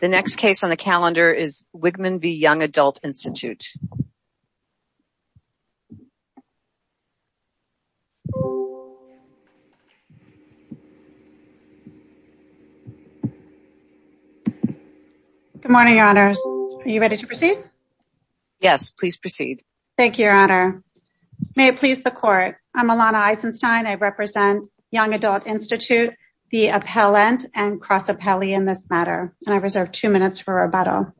The next case on the calendar is Wigman v. Young Adult Institute. Good morning, your honors. Are you ready to proceed? Yes, please proceed. Thank you, your honor. May it please the court. I'm Alana Eisenstein. I represent Young Adult Institute, the appellant, and cross-appellee in this matter, and I reserve two minutes for rebuttal.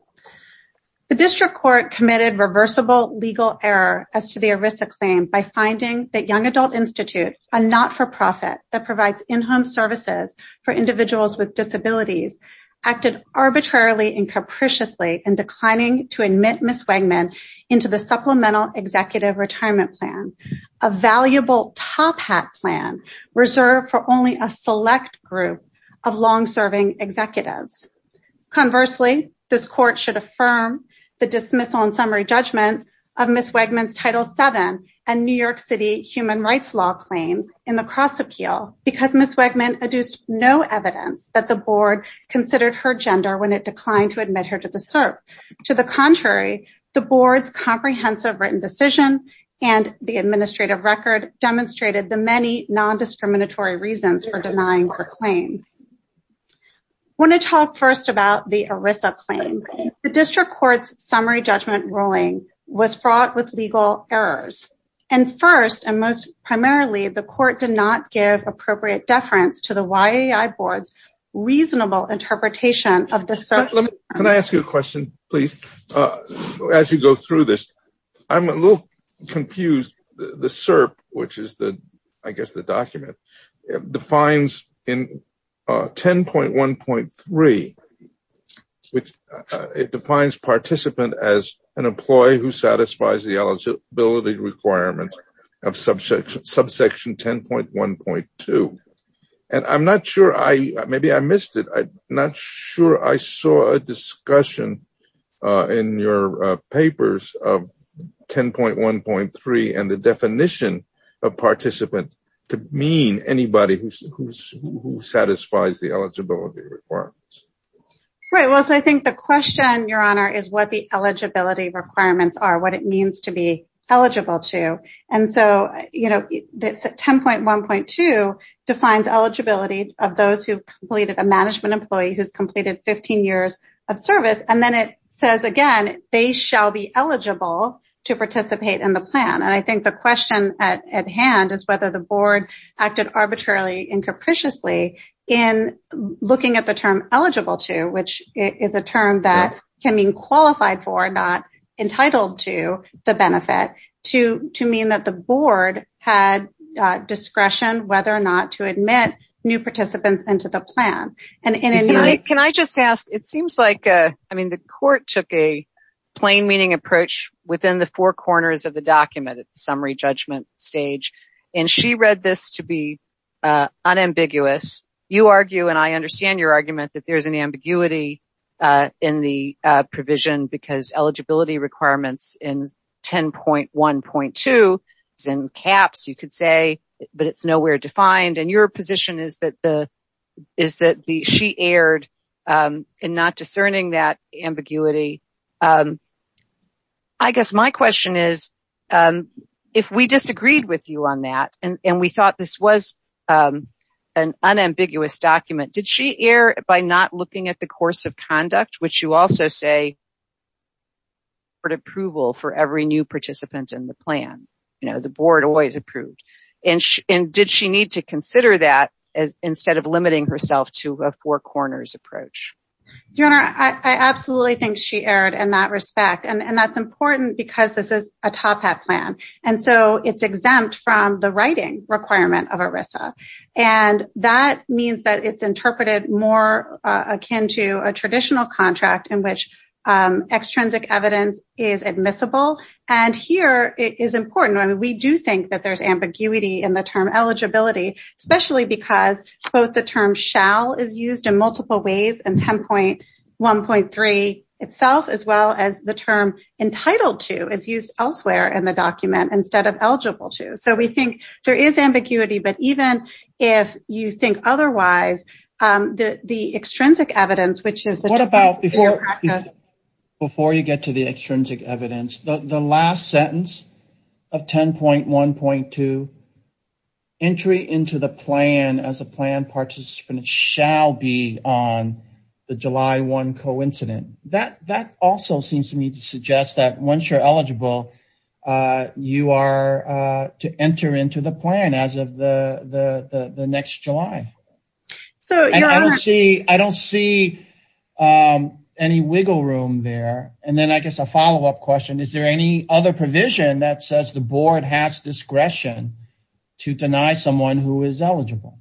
The district court committed reversible legal error as to the ERISA claim by finding that Young Adult Institute, a not-for-profit that provides in-home services for individuals with disabilities, acted arbitrarily and capriciously in declining to admit Ms. Wigman into the Supplemental Executive Retirement Plan, a valuable top-hat plan reserved for only a select group of long-serving executives. Conversely, this court should affirm the dismissal and summary judgment of Ms. Wigman's Title VII and New York City human rights law claims in the cross-appeal because Ms. Wigman adduced no evidence that the board considered her gender when it declined to admit her to the SERP. To the contrary, the board's comprehensive written decision and the administrative record demonstrated the many non-discriminatory reasons for denying her claim. I want to talk first about the ERISA claim. The district court's summary judgment ruling was fraught with legal errors, and first and most primarily, the court did not give appropriate deference to the YAI board's reasonable interpretation of the SERP's... Can I ask you a question, please, as you go through this? I'm a little confused. The SERP, which is, I guess, the document, defines in 10.1.3, it defines participant as an employee who satisfies the eligibility requirements of subsection 10.1.2, and I'm not sure I... Maybe I missed it. I'm not sure I saw a discussion in your papers of 10.1.3 and the definition of participant to mean anybody who satisfies the eligibility requirements. Right. Well, so I think the question, Your Honor, is what the eligibility requirements are, what it means to be eligible to. And so 10.1.2 defines eligibility of those who've completed, a management employee who's completed 15 years of service, and then it says, again, they shall be eligible to participate in the plan. And I think the question at hand is whether the which is a term that can mean qualified for, not entitled to the benefit, to mean that the board had discretion whether or not to admit new participants into the plan. And in a... Can I just ask, it seems like, I mean, the court took a plain meaning approach within the four corners of the document at the summary judgment stage, and she read this to be unambiguous. You argue, and I understand your argument, that there's an ambiguity in the provision because eligibility requirements in 10.1.2 is in caps, you could say, but it's nowhere defined. And your position is that she erred in not discerning that ambiguity. I guess my question is, if we disagreed with you on that, and we thought this was an unambiguous document, did she err by not looking at the course of conduct, which you also say, court approval for every new participant in the plan, the board always approved, and did she need to consider that instead of limiting herself to a four corners approach? Your Honor, I absolutely think she erred in that respect. And that's important because this is a TOPAP plan. And so it's exempt from the writing requirement of ERISA. And that means that it's interpreted more akin to a traditional contract in which extrinsic evidence is admissible. And here, it is important. I mean, we do think that there's ambiguity in the term eligibility, especially because both the term shall is used in multiple ways in 10.1.3 itself, as well as term entitled to is used elsewhere in the document instead of eligible to. So we think there is ambiguity. But even if you think otherwise, the extrinsic evidence, which is... What about before you get to the extrinsic evidence, the last sentence of 10.1.2, entry into the plan as a plan participant shall be on the July 1 coincident. That also seems to suggest that once you're eligible, you are to enter into the plan as of the next July. I don't see any wiggle room there. And then I guess a follow up question. Is there any other provision that says the board has discretion to deny someone who is eligible?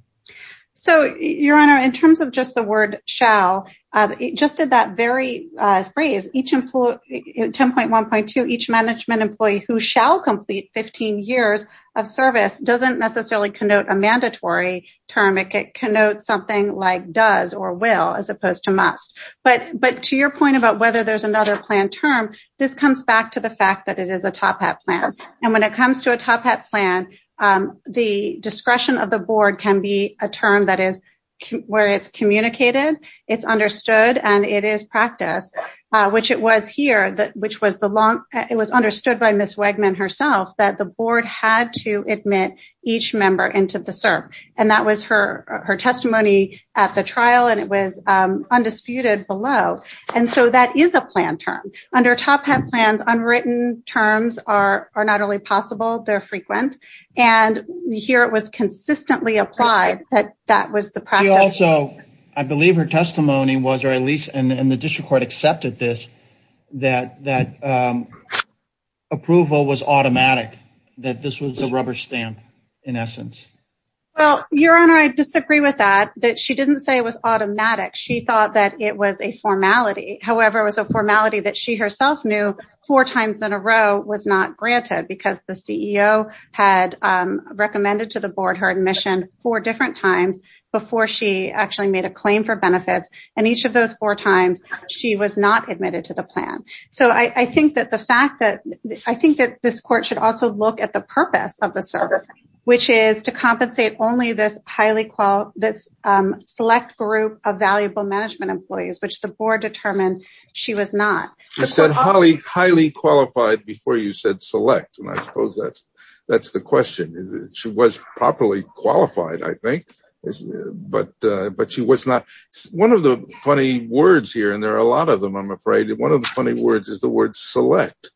So, Your Honor, in terms of just the word shall, it just did that very phrase, 10.1.2, each management employee who shall complete 15 years of service doesn't necessarily connote a mandatory term. It connotes something like does or will, as opposed to must. But to your point about whether there's another plan term, this comes back to the fact that it is a plan. The discretion of the board can be a term that is where it's communicated, it's understood, and it is practiced, which it was here, which was the long... It was understood by Ms. Wegman herself that the board had to admit each member into the CERP. And that was her testimony at the trial and it was undisputed below. And so that is a plan term. Under Top Hat plans, unwritten terms are not only possible, they're frequent. And here it was consistently applied that that was the practice. She also, I believe her testimony was, or at least in the district court accepted this, that approval was automatic, that this was a rubber stamp in essence. Well, Your Honor, I disagree with that, that she didn't say it was automatic. She thought that it was a formality. However, it was a formality that she herself knew four times in a row was not granted because the CEO had recommended to the board her admission four different times before she actually made a claim for benefits. And each of those four times, she was not admitted to the plan. So I think that this court should also look at the purpose of the CERP, which is to compensate only this select group of valuable management employees, which the board determined she was not. You said highly qualified before you said select. And I suppose that's the question. She was properly qualified, I think, but she was not. One of the funny words here, and there are a lot of them, I'm afraid, one of the funny words is the word select.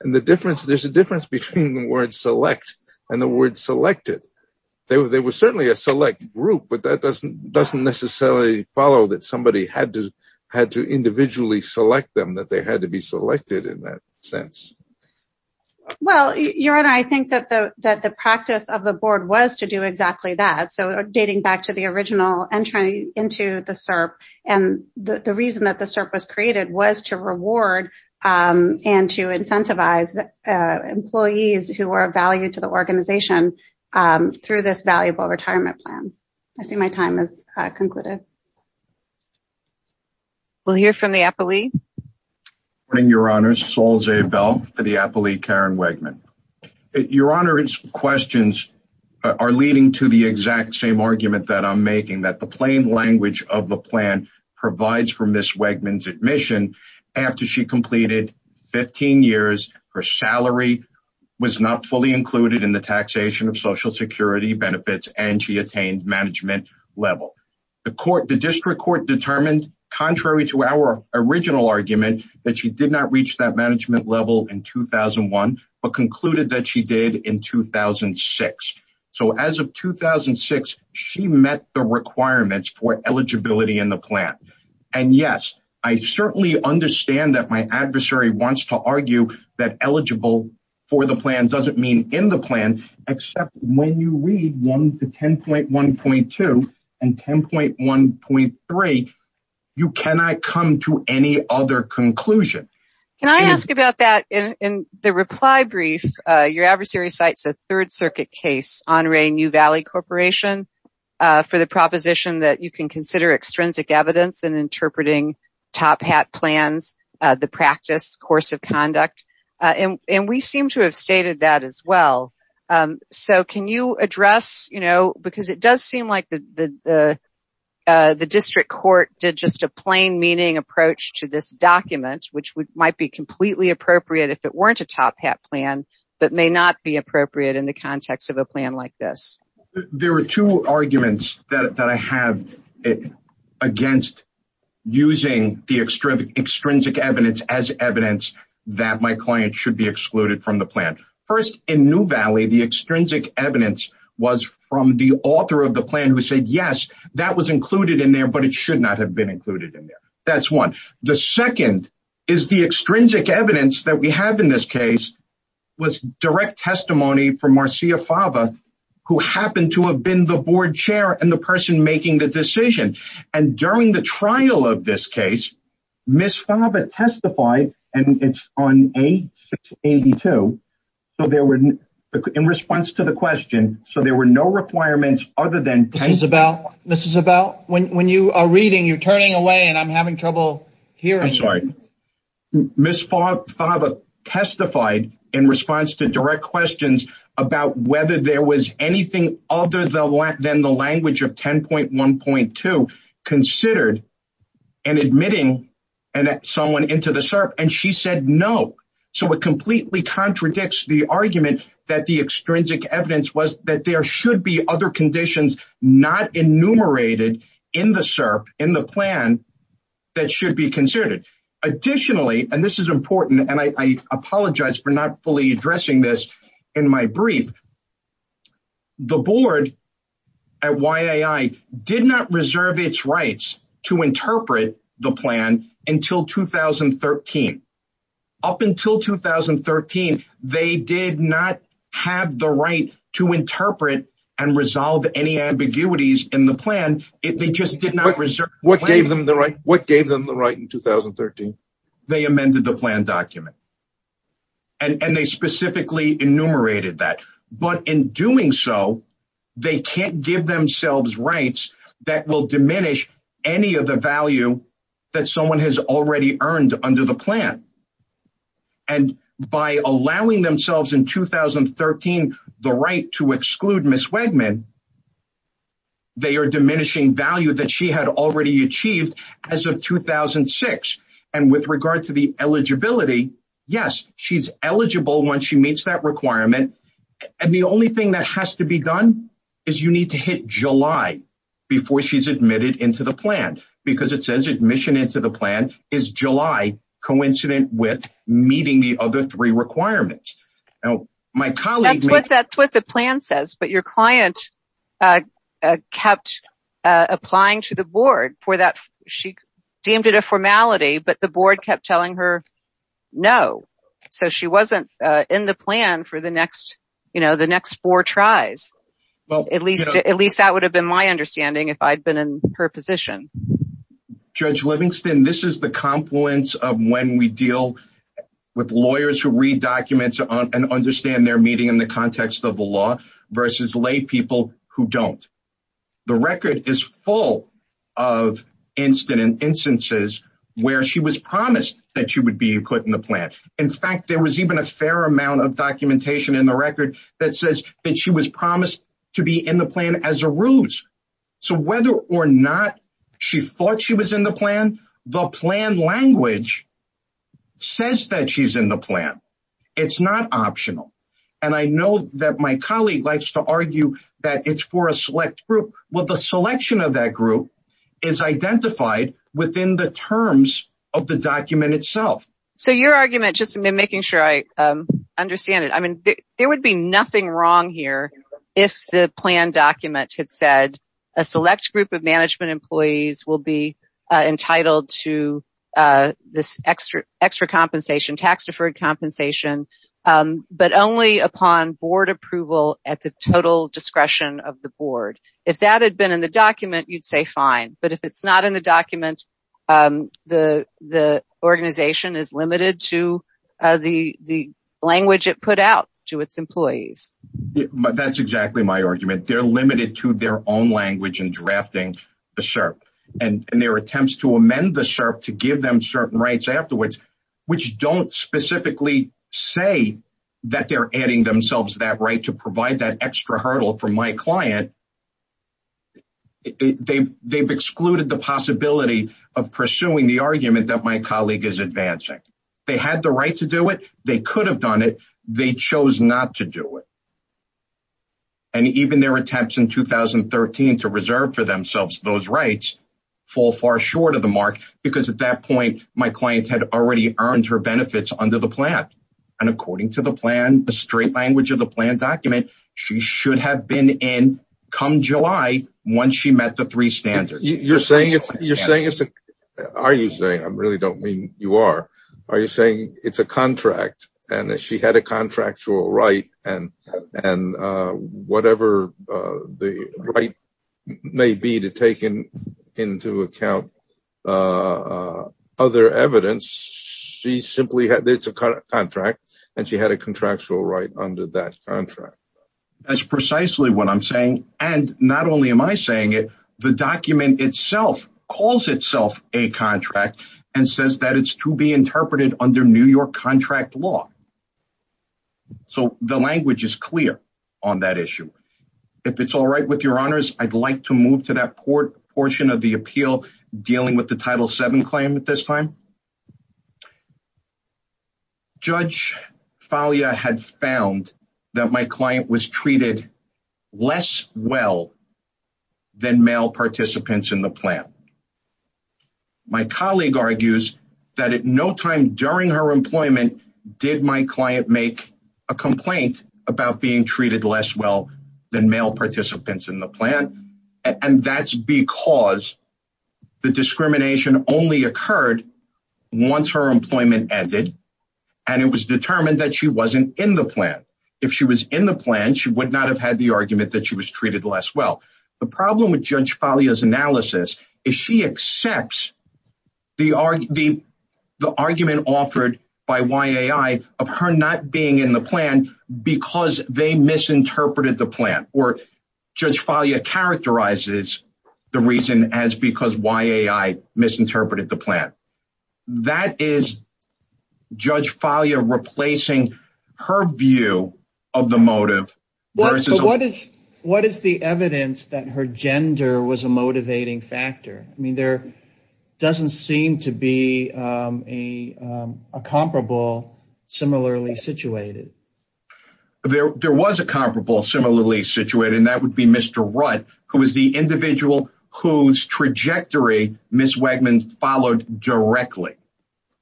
And the difference, there's a difference between the word select and the word selected. They were certainly a select group, but that doesn't necessarily follow that somebody had to individually select them, that they had to be selected in that sense. Well, Your Honor, I think that the practice of the board was to do exactly that. So dating back to the original entry into the CERP, and the reason that the CERP was created was to reward and to incentivize employees who are of value to the organization through this valuable retirement plan. I see my time has concluded. We'll hear from the appellee. Good morning, Your Honor. Sol Zeibel for the appellee, Karen Wegman. Your Honor, its questions are leading to the exact same argument that I'm making, that the plain language of the plan provides for Ms. Wegman's admission after she completed 15 years, her salary was not fully included in the taxation of Social Security benefits, and she attained management level. The district court determined, contrary to our original argument, that she did not reach that management level in 2001, but concluded that she did in 2006. So as of 2006, she met the requirements for eligibility in the plan. And yes, I certainly understand that my adversary wants to argue that eligible for the plan doesn't mean in the plan, except when you read 1 to 10.1.2 and 10.1.3, you cannot come to any other conclusion. Can I ask about that? In the reply brief, your adversary cites a Third Circuit case, Honoré New Valley Corporation, for the proposition that you can consider extrinsic evidence in interpreting top hat plans, the practice course of conduct. And we seem to have stated that as well. So can you address, you know, because it does seem like the district court did just a plain meaning approach to this document, which might be completely appropriate if it weren't a top hat plan, but may not be appropriate in the context of a plan like this. There are two arguments that I have against using the extrinsic evidence as evidence that my client should be excluded from the plan. First, in New Valley, the extrinsic evidence was from the author of the plan who said, yes, that was included in there, but it should not have been included in there. That's one. The second is the extrinsic evidence that we have in this case was direct testimony from Marcia Fava, who happened to have been the board chair and the person making the decision. And during the trial of this case, Ms. Fava testified, and it's on A-682, so there were, in response to the question, so there were no requirements other than... Ms. Isabel, when you are reading, you're turning away and I'm having trouble hearing. I'm sorry. Ms. Fava testified in response to direct questions about whether there was anything other than the language of 10.1.2 considered and admitting someone into the SERP. And she said no. So, it completely contradicts the argument that the extrinsic evidence was that there should be other conditions not enumerated in the SERP, in the plan, that should be considered. Additionally, and this is important, and I apologize for not fully addressing this in my 2013. Up until 2013, they did not have the right to interpret and resolve any ambiguities in the plan. They just did not reserve... What gave them the right in 2013? They amended the plan document. And they specifically enumerated that. But in doing so, they can't give themselves rights that will diminish any of the value that someone has already earned under the plan. And by allowing themselves in 2013 the right to exclude Ms. Wegman, they are diminishing value that she had already achieved as of 2006. And with regard to the eligibility, yes, she's eligible when she meets that requirement. And the only thing that has to be done is you need to hit July before she's admitted into the plan. Because it says admission into the plan is July coincident with meeting the other three requirements. Now, my colleague... That's what the plan says, but your client kept applying to the board for that. She deemed it a formality, but the board kept telling her no. So she wasn't in the plan for the next, you know, the next four tries. At least that would have been my understanding if I'd been in her position. Judge Livingston, this is the confluence of when we deal with lawyers who read documents and understand their meeting in the context of the law versus lay people who don't. The record is full of instances where she was promised that she would be put in the plan. In fact, there was even a fair amount of documentation in the record that says that she was promised to be in the plan as a ruse. So whether or not she thought she was in the plan, the plan language says that she's in the plan. It's not optional. And I know that my colleague likes to argue that it's for a select group. Well, the selection of that group is identified within the terms of the document itself. So your argument, just making sure I understand it. I mean, there would be nothing wrong here if the plan document had said a select group of management employees will be entitled to this extra compensation, tax deferred compensation, but only upon board approval at the total discretion of the board. If that had been in the document, you'd say fine, but if it's not in the document, the organization is limited to the language it put out to its employees. That's exactly my argument. They're limited to their own language and drafting the SERP and their attempts to amend the SERP to give them certain rights afterwards, which don't specifically say that they're adding themselves that right to provide that extra hurdle for my client. They've excluded the possibility of pursuing the argument that my colleague is advancing. They had the right to do it. They could have done it. They chose not to do it. And even their attempts in 2013 to reserve for themselves those rights fall far short of the mark because at that point, my client had already earned her benefits under the plan. And according to the plan, the straight language of the plan document, she should have been in come July once she met the three standards. You're saying it's, you're saying it's a, are you saying, I really don't mean you are, are you saying it's a contract and she had a contractual right and, and whatever the right may be to take in into account other evidence, she simply had, it's a contract and she had a contractual right under that contract. That's precisely what I'm saying. And not only am I New York contract law. So the language is clear on that issue. If it's all right with your honors, I'd like to move to that port portion of the appeal dealing with the title seven claim at this time. Judge Falia had found that my client was treated less well than male participants in the during her employment. Did my client make a complaint about being treated less well than male participants in the plan? And that's because the discrimination only occurred once her employment ended and it was determined that she wasn't in the plan. If she was in the plan, she would not have had the argument that she was treated less. Well, the problem with judge Falia's analysis is she accepts the argument offered by YAI of her not being in the plan because they misinterpreted the plan or judge Falia characterizes the reason as because YAI misinterpreted the plan. That is judge Falia replacing her view of the motive. Well, what is what is the evidence that her gender was a motivating factor? I mean, there doesn't seem to be a comparable similarly situated. There was a comparable similarly situated and that would be Mr. Rudd, who is the individual whose trajectory Ms. Wegman followed directly.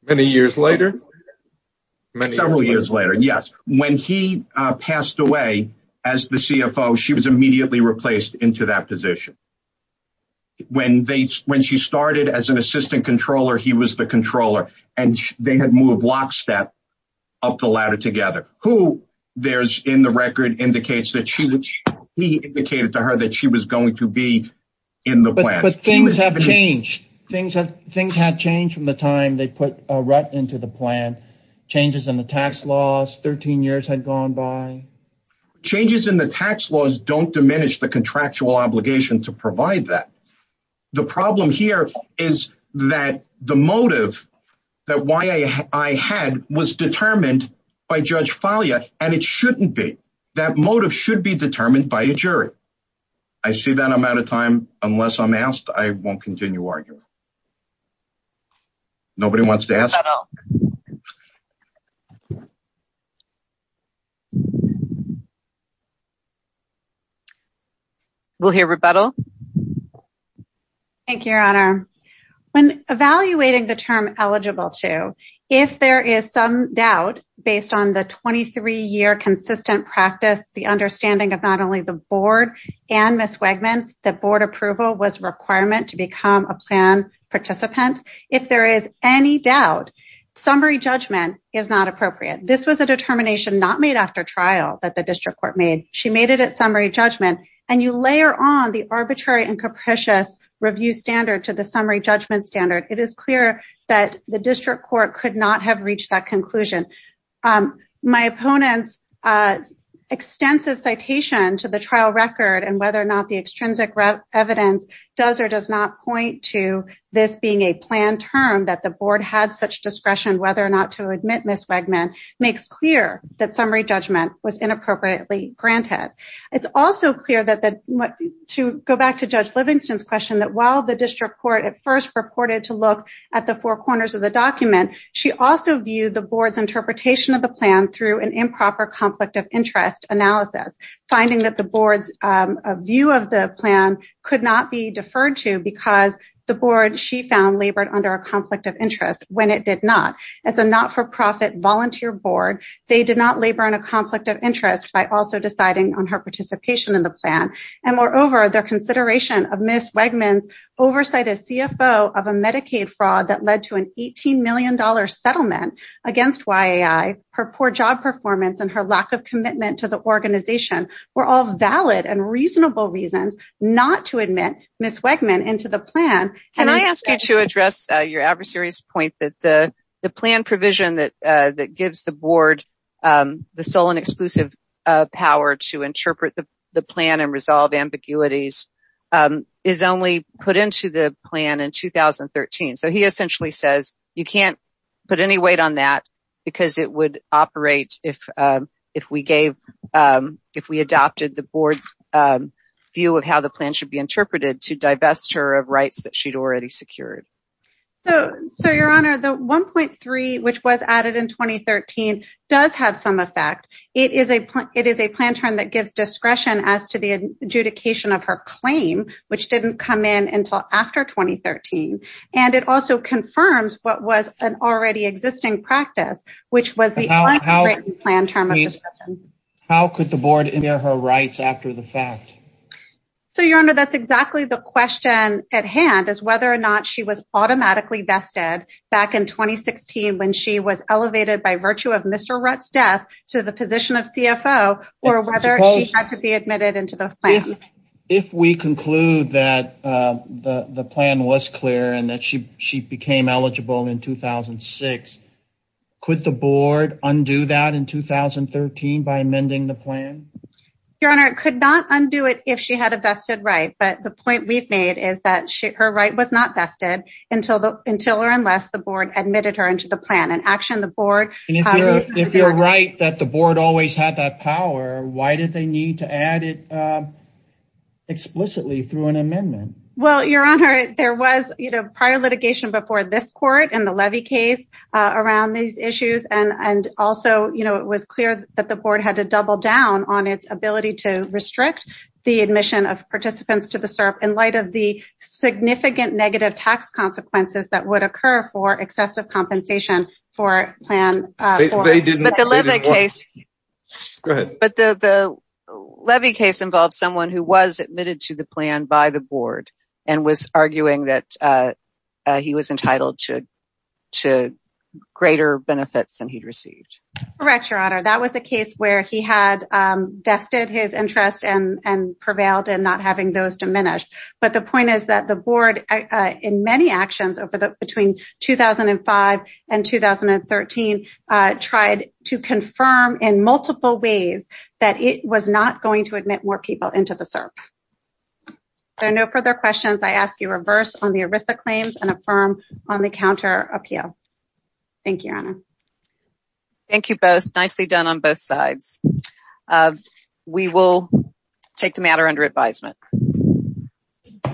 Many years later, several years later. Yes. When he passed away as the CFO, she was immediately replaced into that position. When they when she started as an assistant controller, he was the controller and they had moved lockstep up the ladder together, who there's in the record indicates that she was he indicated to her that she was going to be in the plan. But things have changed. Things have things have changed from the time they put a rut into the plan. Changes in the tax laws. Thirteen years had gone by. Changes in the tax laws don't diminish the contractual obligation to provide that. The problem here is that the motive that YAI had was determined by judge Falia, and it shouldn't be. That motive should be determined by a jury. I see that I'm out of time unless I'm asked. I won't continue arguing. Nobody wants to ask. We'll hear rebuttal. Thank you, Your Honor. When evaluating the term eligible to if there is some doubt based on the and Ms. Wegman, the board approval was requirement to become a plan participant. If there is any doubt, summary judgment is not appropriate. This was a determination not made after trial that the district court made. She made it at summary judgment and you layer on the arbitrary and capricious review standard to the summary judgment standard. It is clear that the district court could not have reached that conclusion. My opponent's extensive citation to the trial record and whether or not the extrinsic evidence does or does not point to this being a plan term that the board had such discretion whether or not to admit Ms. Wegman makes clear that summary judgment was inappropriately granted. It's also clear that to go back to Judge Livingston's question that while the district court at first purported to look at the four corners of the document, she also viewed the plan through an improper conflict of interest analysis, finding that the board's view of the plan could not be deferred to because the board she found labored under a conflict of interest when it did not. As a not-for-profit volunteer board, they did not labor in a conflict of interest by also deciding on her participation in the plan. And moreover, their consideration of Ms. Wegman's oversight as CFO of a Medicaid fraud that led to an $18 million settlement against YAI, her poor job performance and her lack of commitment to the organization were all valid and reasonable reasons not to admit Ms. Wegman into the plan. Can I ask you to address your adversary's point that the plan provision that gives the board the sole and exclusive power to interpret the plan and resolve ambiguities is only put into the plan in 2013? So he essentially says you can't put any weight on that because it would operate if we adopted the board's view of how the plan should be interpreted to divest her of rights that she'd already secured. So your honor, the 1.3 which was added in 2013 does have some effect. It is a plan term that gives discretion as to the adjudication of her claim which didn't come in until after 2013. And it also confirms what was an already existing practice which was the plan term of discretion. How could the board in their her rights after the fact? So your honor, that's exactly the question at hand is whether or not she was automatically vested back in 2016 when she was elevated by virtue of Mr. Rutt's death to the position of CFO or whether she had to be admitted into the plan. If we conclude that the plan was clear and that she became eligible in 2006, could the board undo that in 2013 by amending the plan? Your honor, it could not undo it if she had a vested right. But the point we've made is that her right was not vested until or unless the board admitted her into the plan. And actually the board If you're right that the board always had that power, why did they need to add it explicitly through an amendment? Well your honor, there was prior litigation before this court in the levy case around these issues. And also it was clear that the board had to double down on its ability to restrict the admission of participants to the SERP in light of the significant negative tax consequences that would occur for excessive compensation for plan. But the levy case involved someone who was admitted to the plan by the board and was arguing that he was entitled to greater benefits than he'd received. Correct your honor, that was a case where he had vested his interest and prevailed and not having those diminished. But the point is that the board in many actions over the between 2005 and 2013 tried to confirm in multiple ways that it was not going to admit more people into the SERP. There are no further questions, I ask you reverse on the ERISA claims and affirm on the counter appeal. Thank you your honor. Thank you both, nicely done on both sides. We will take the matter under advisement.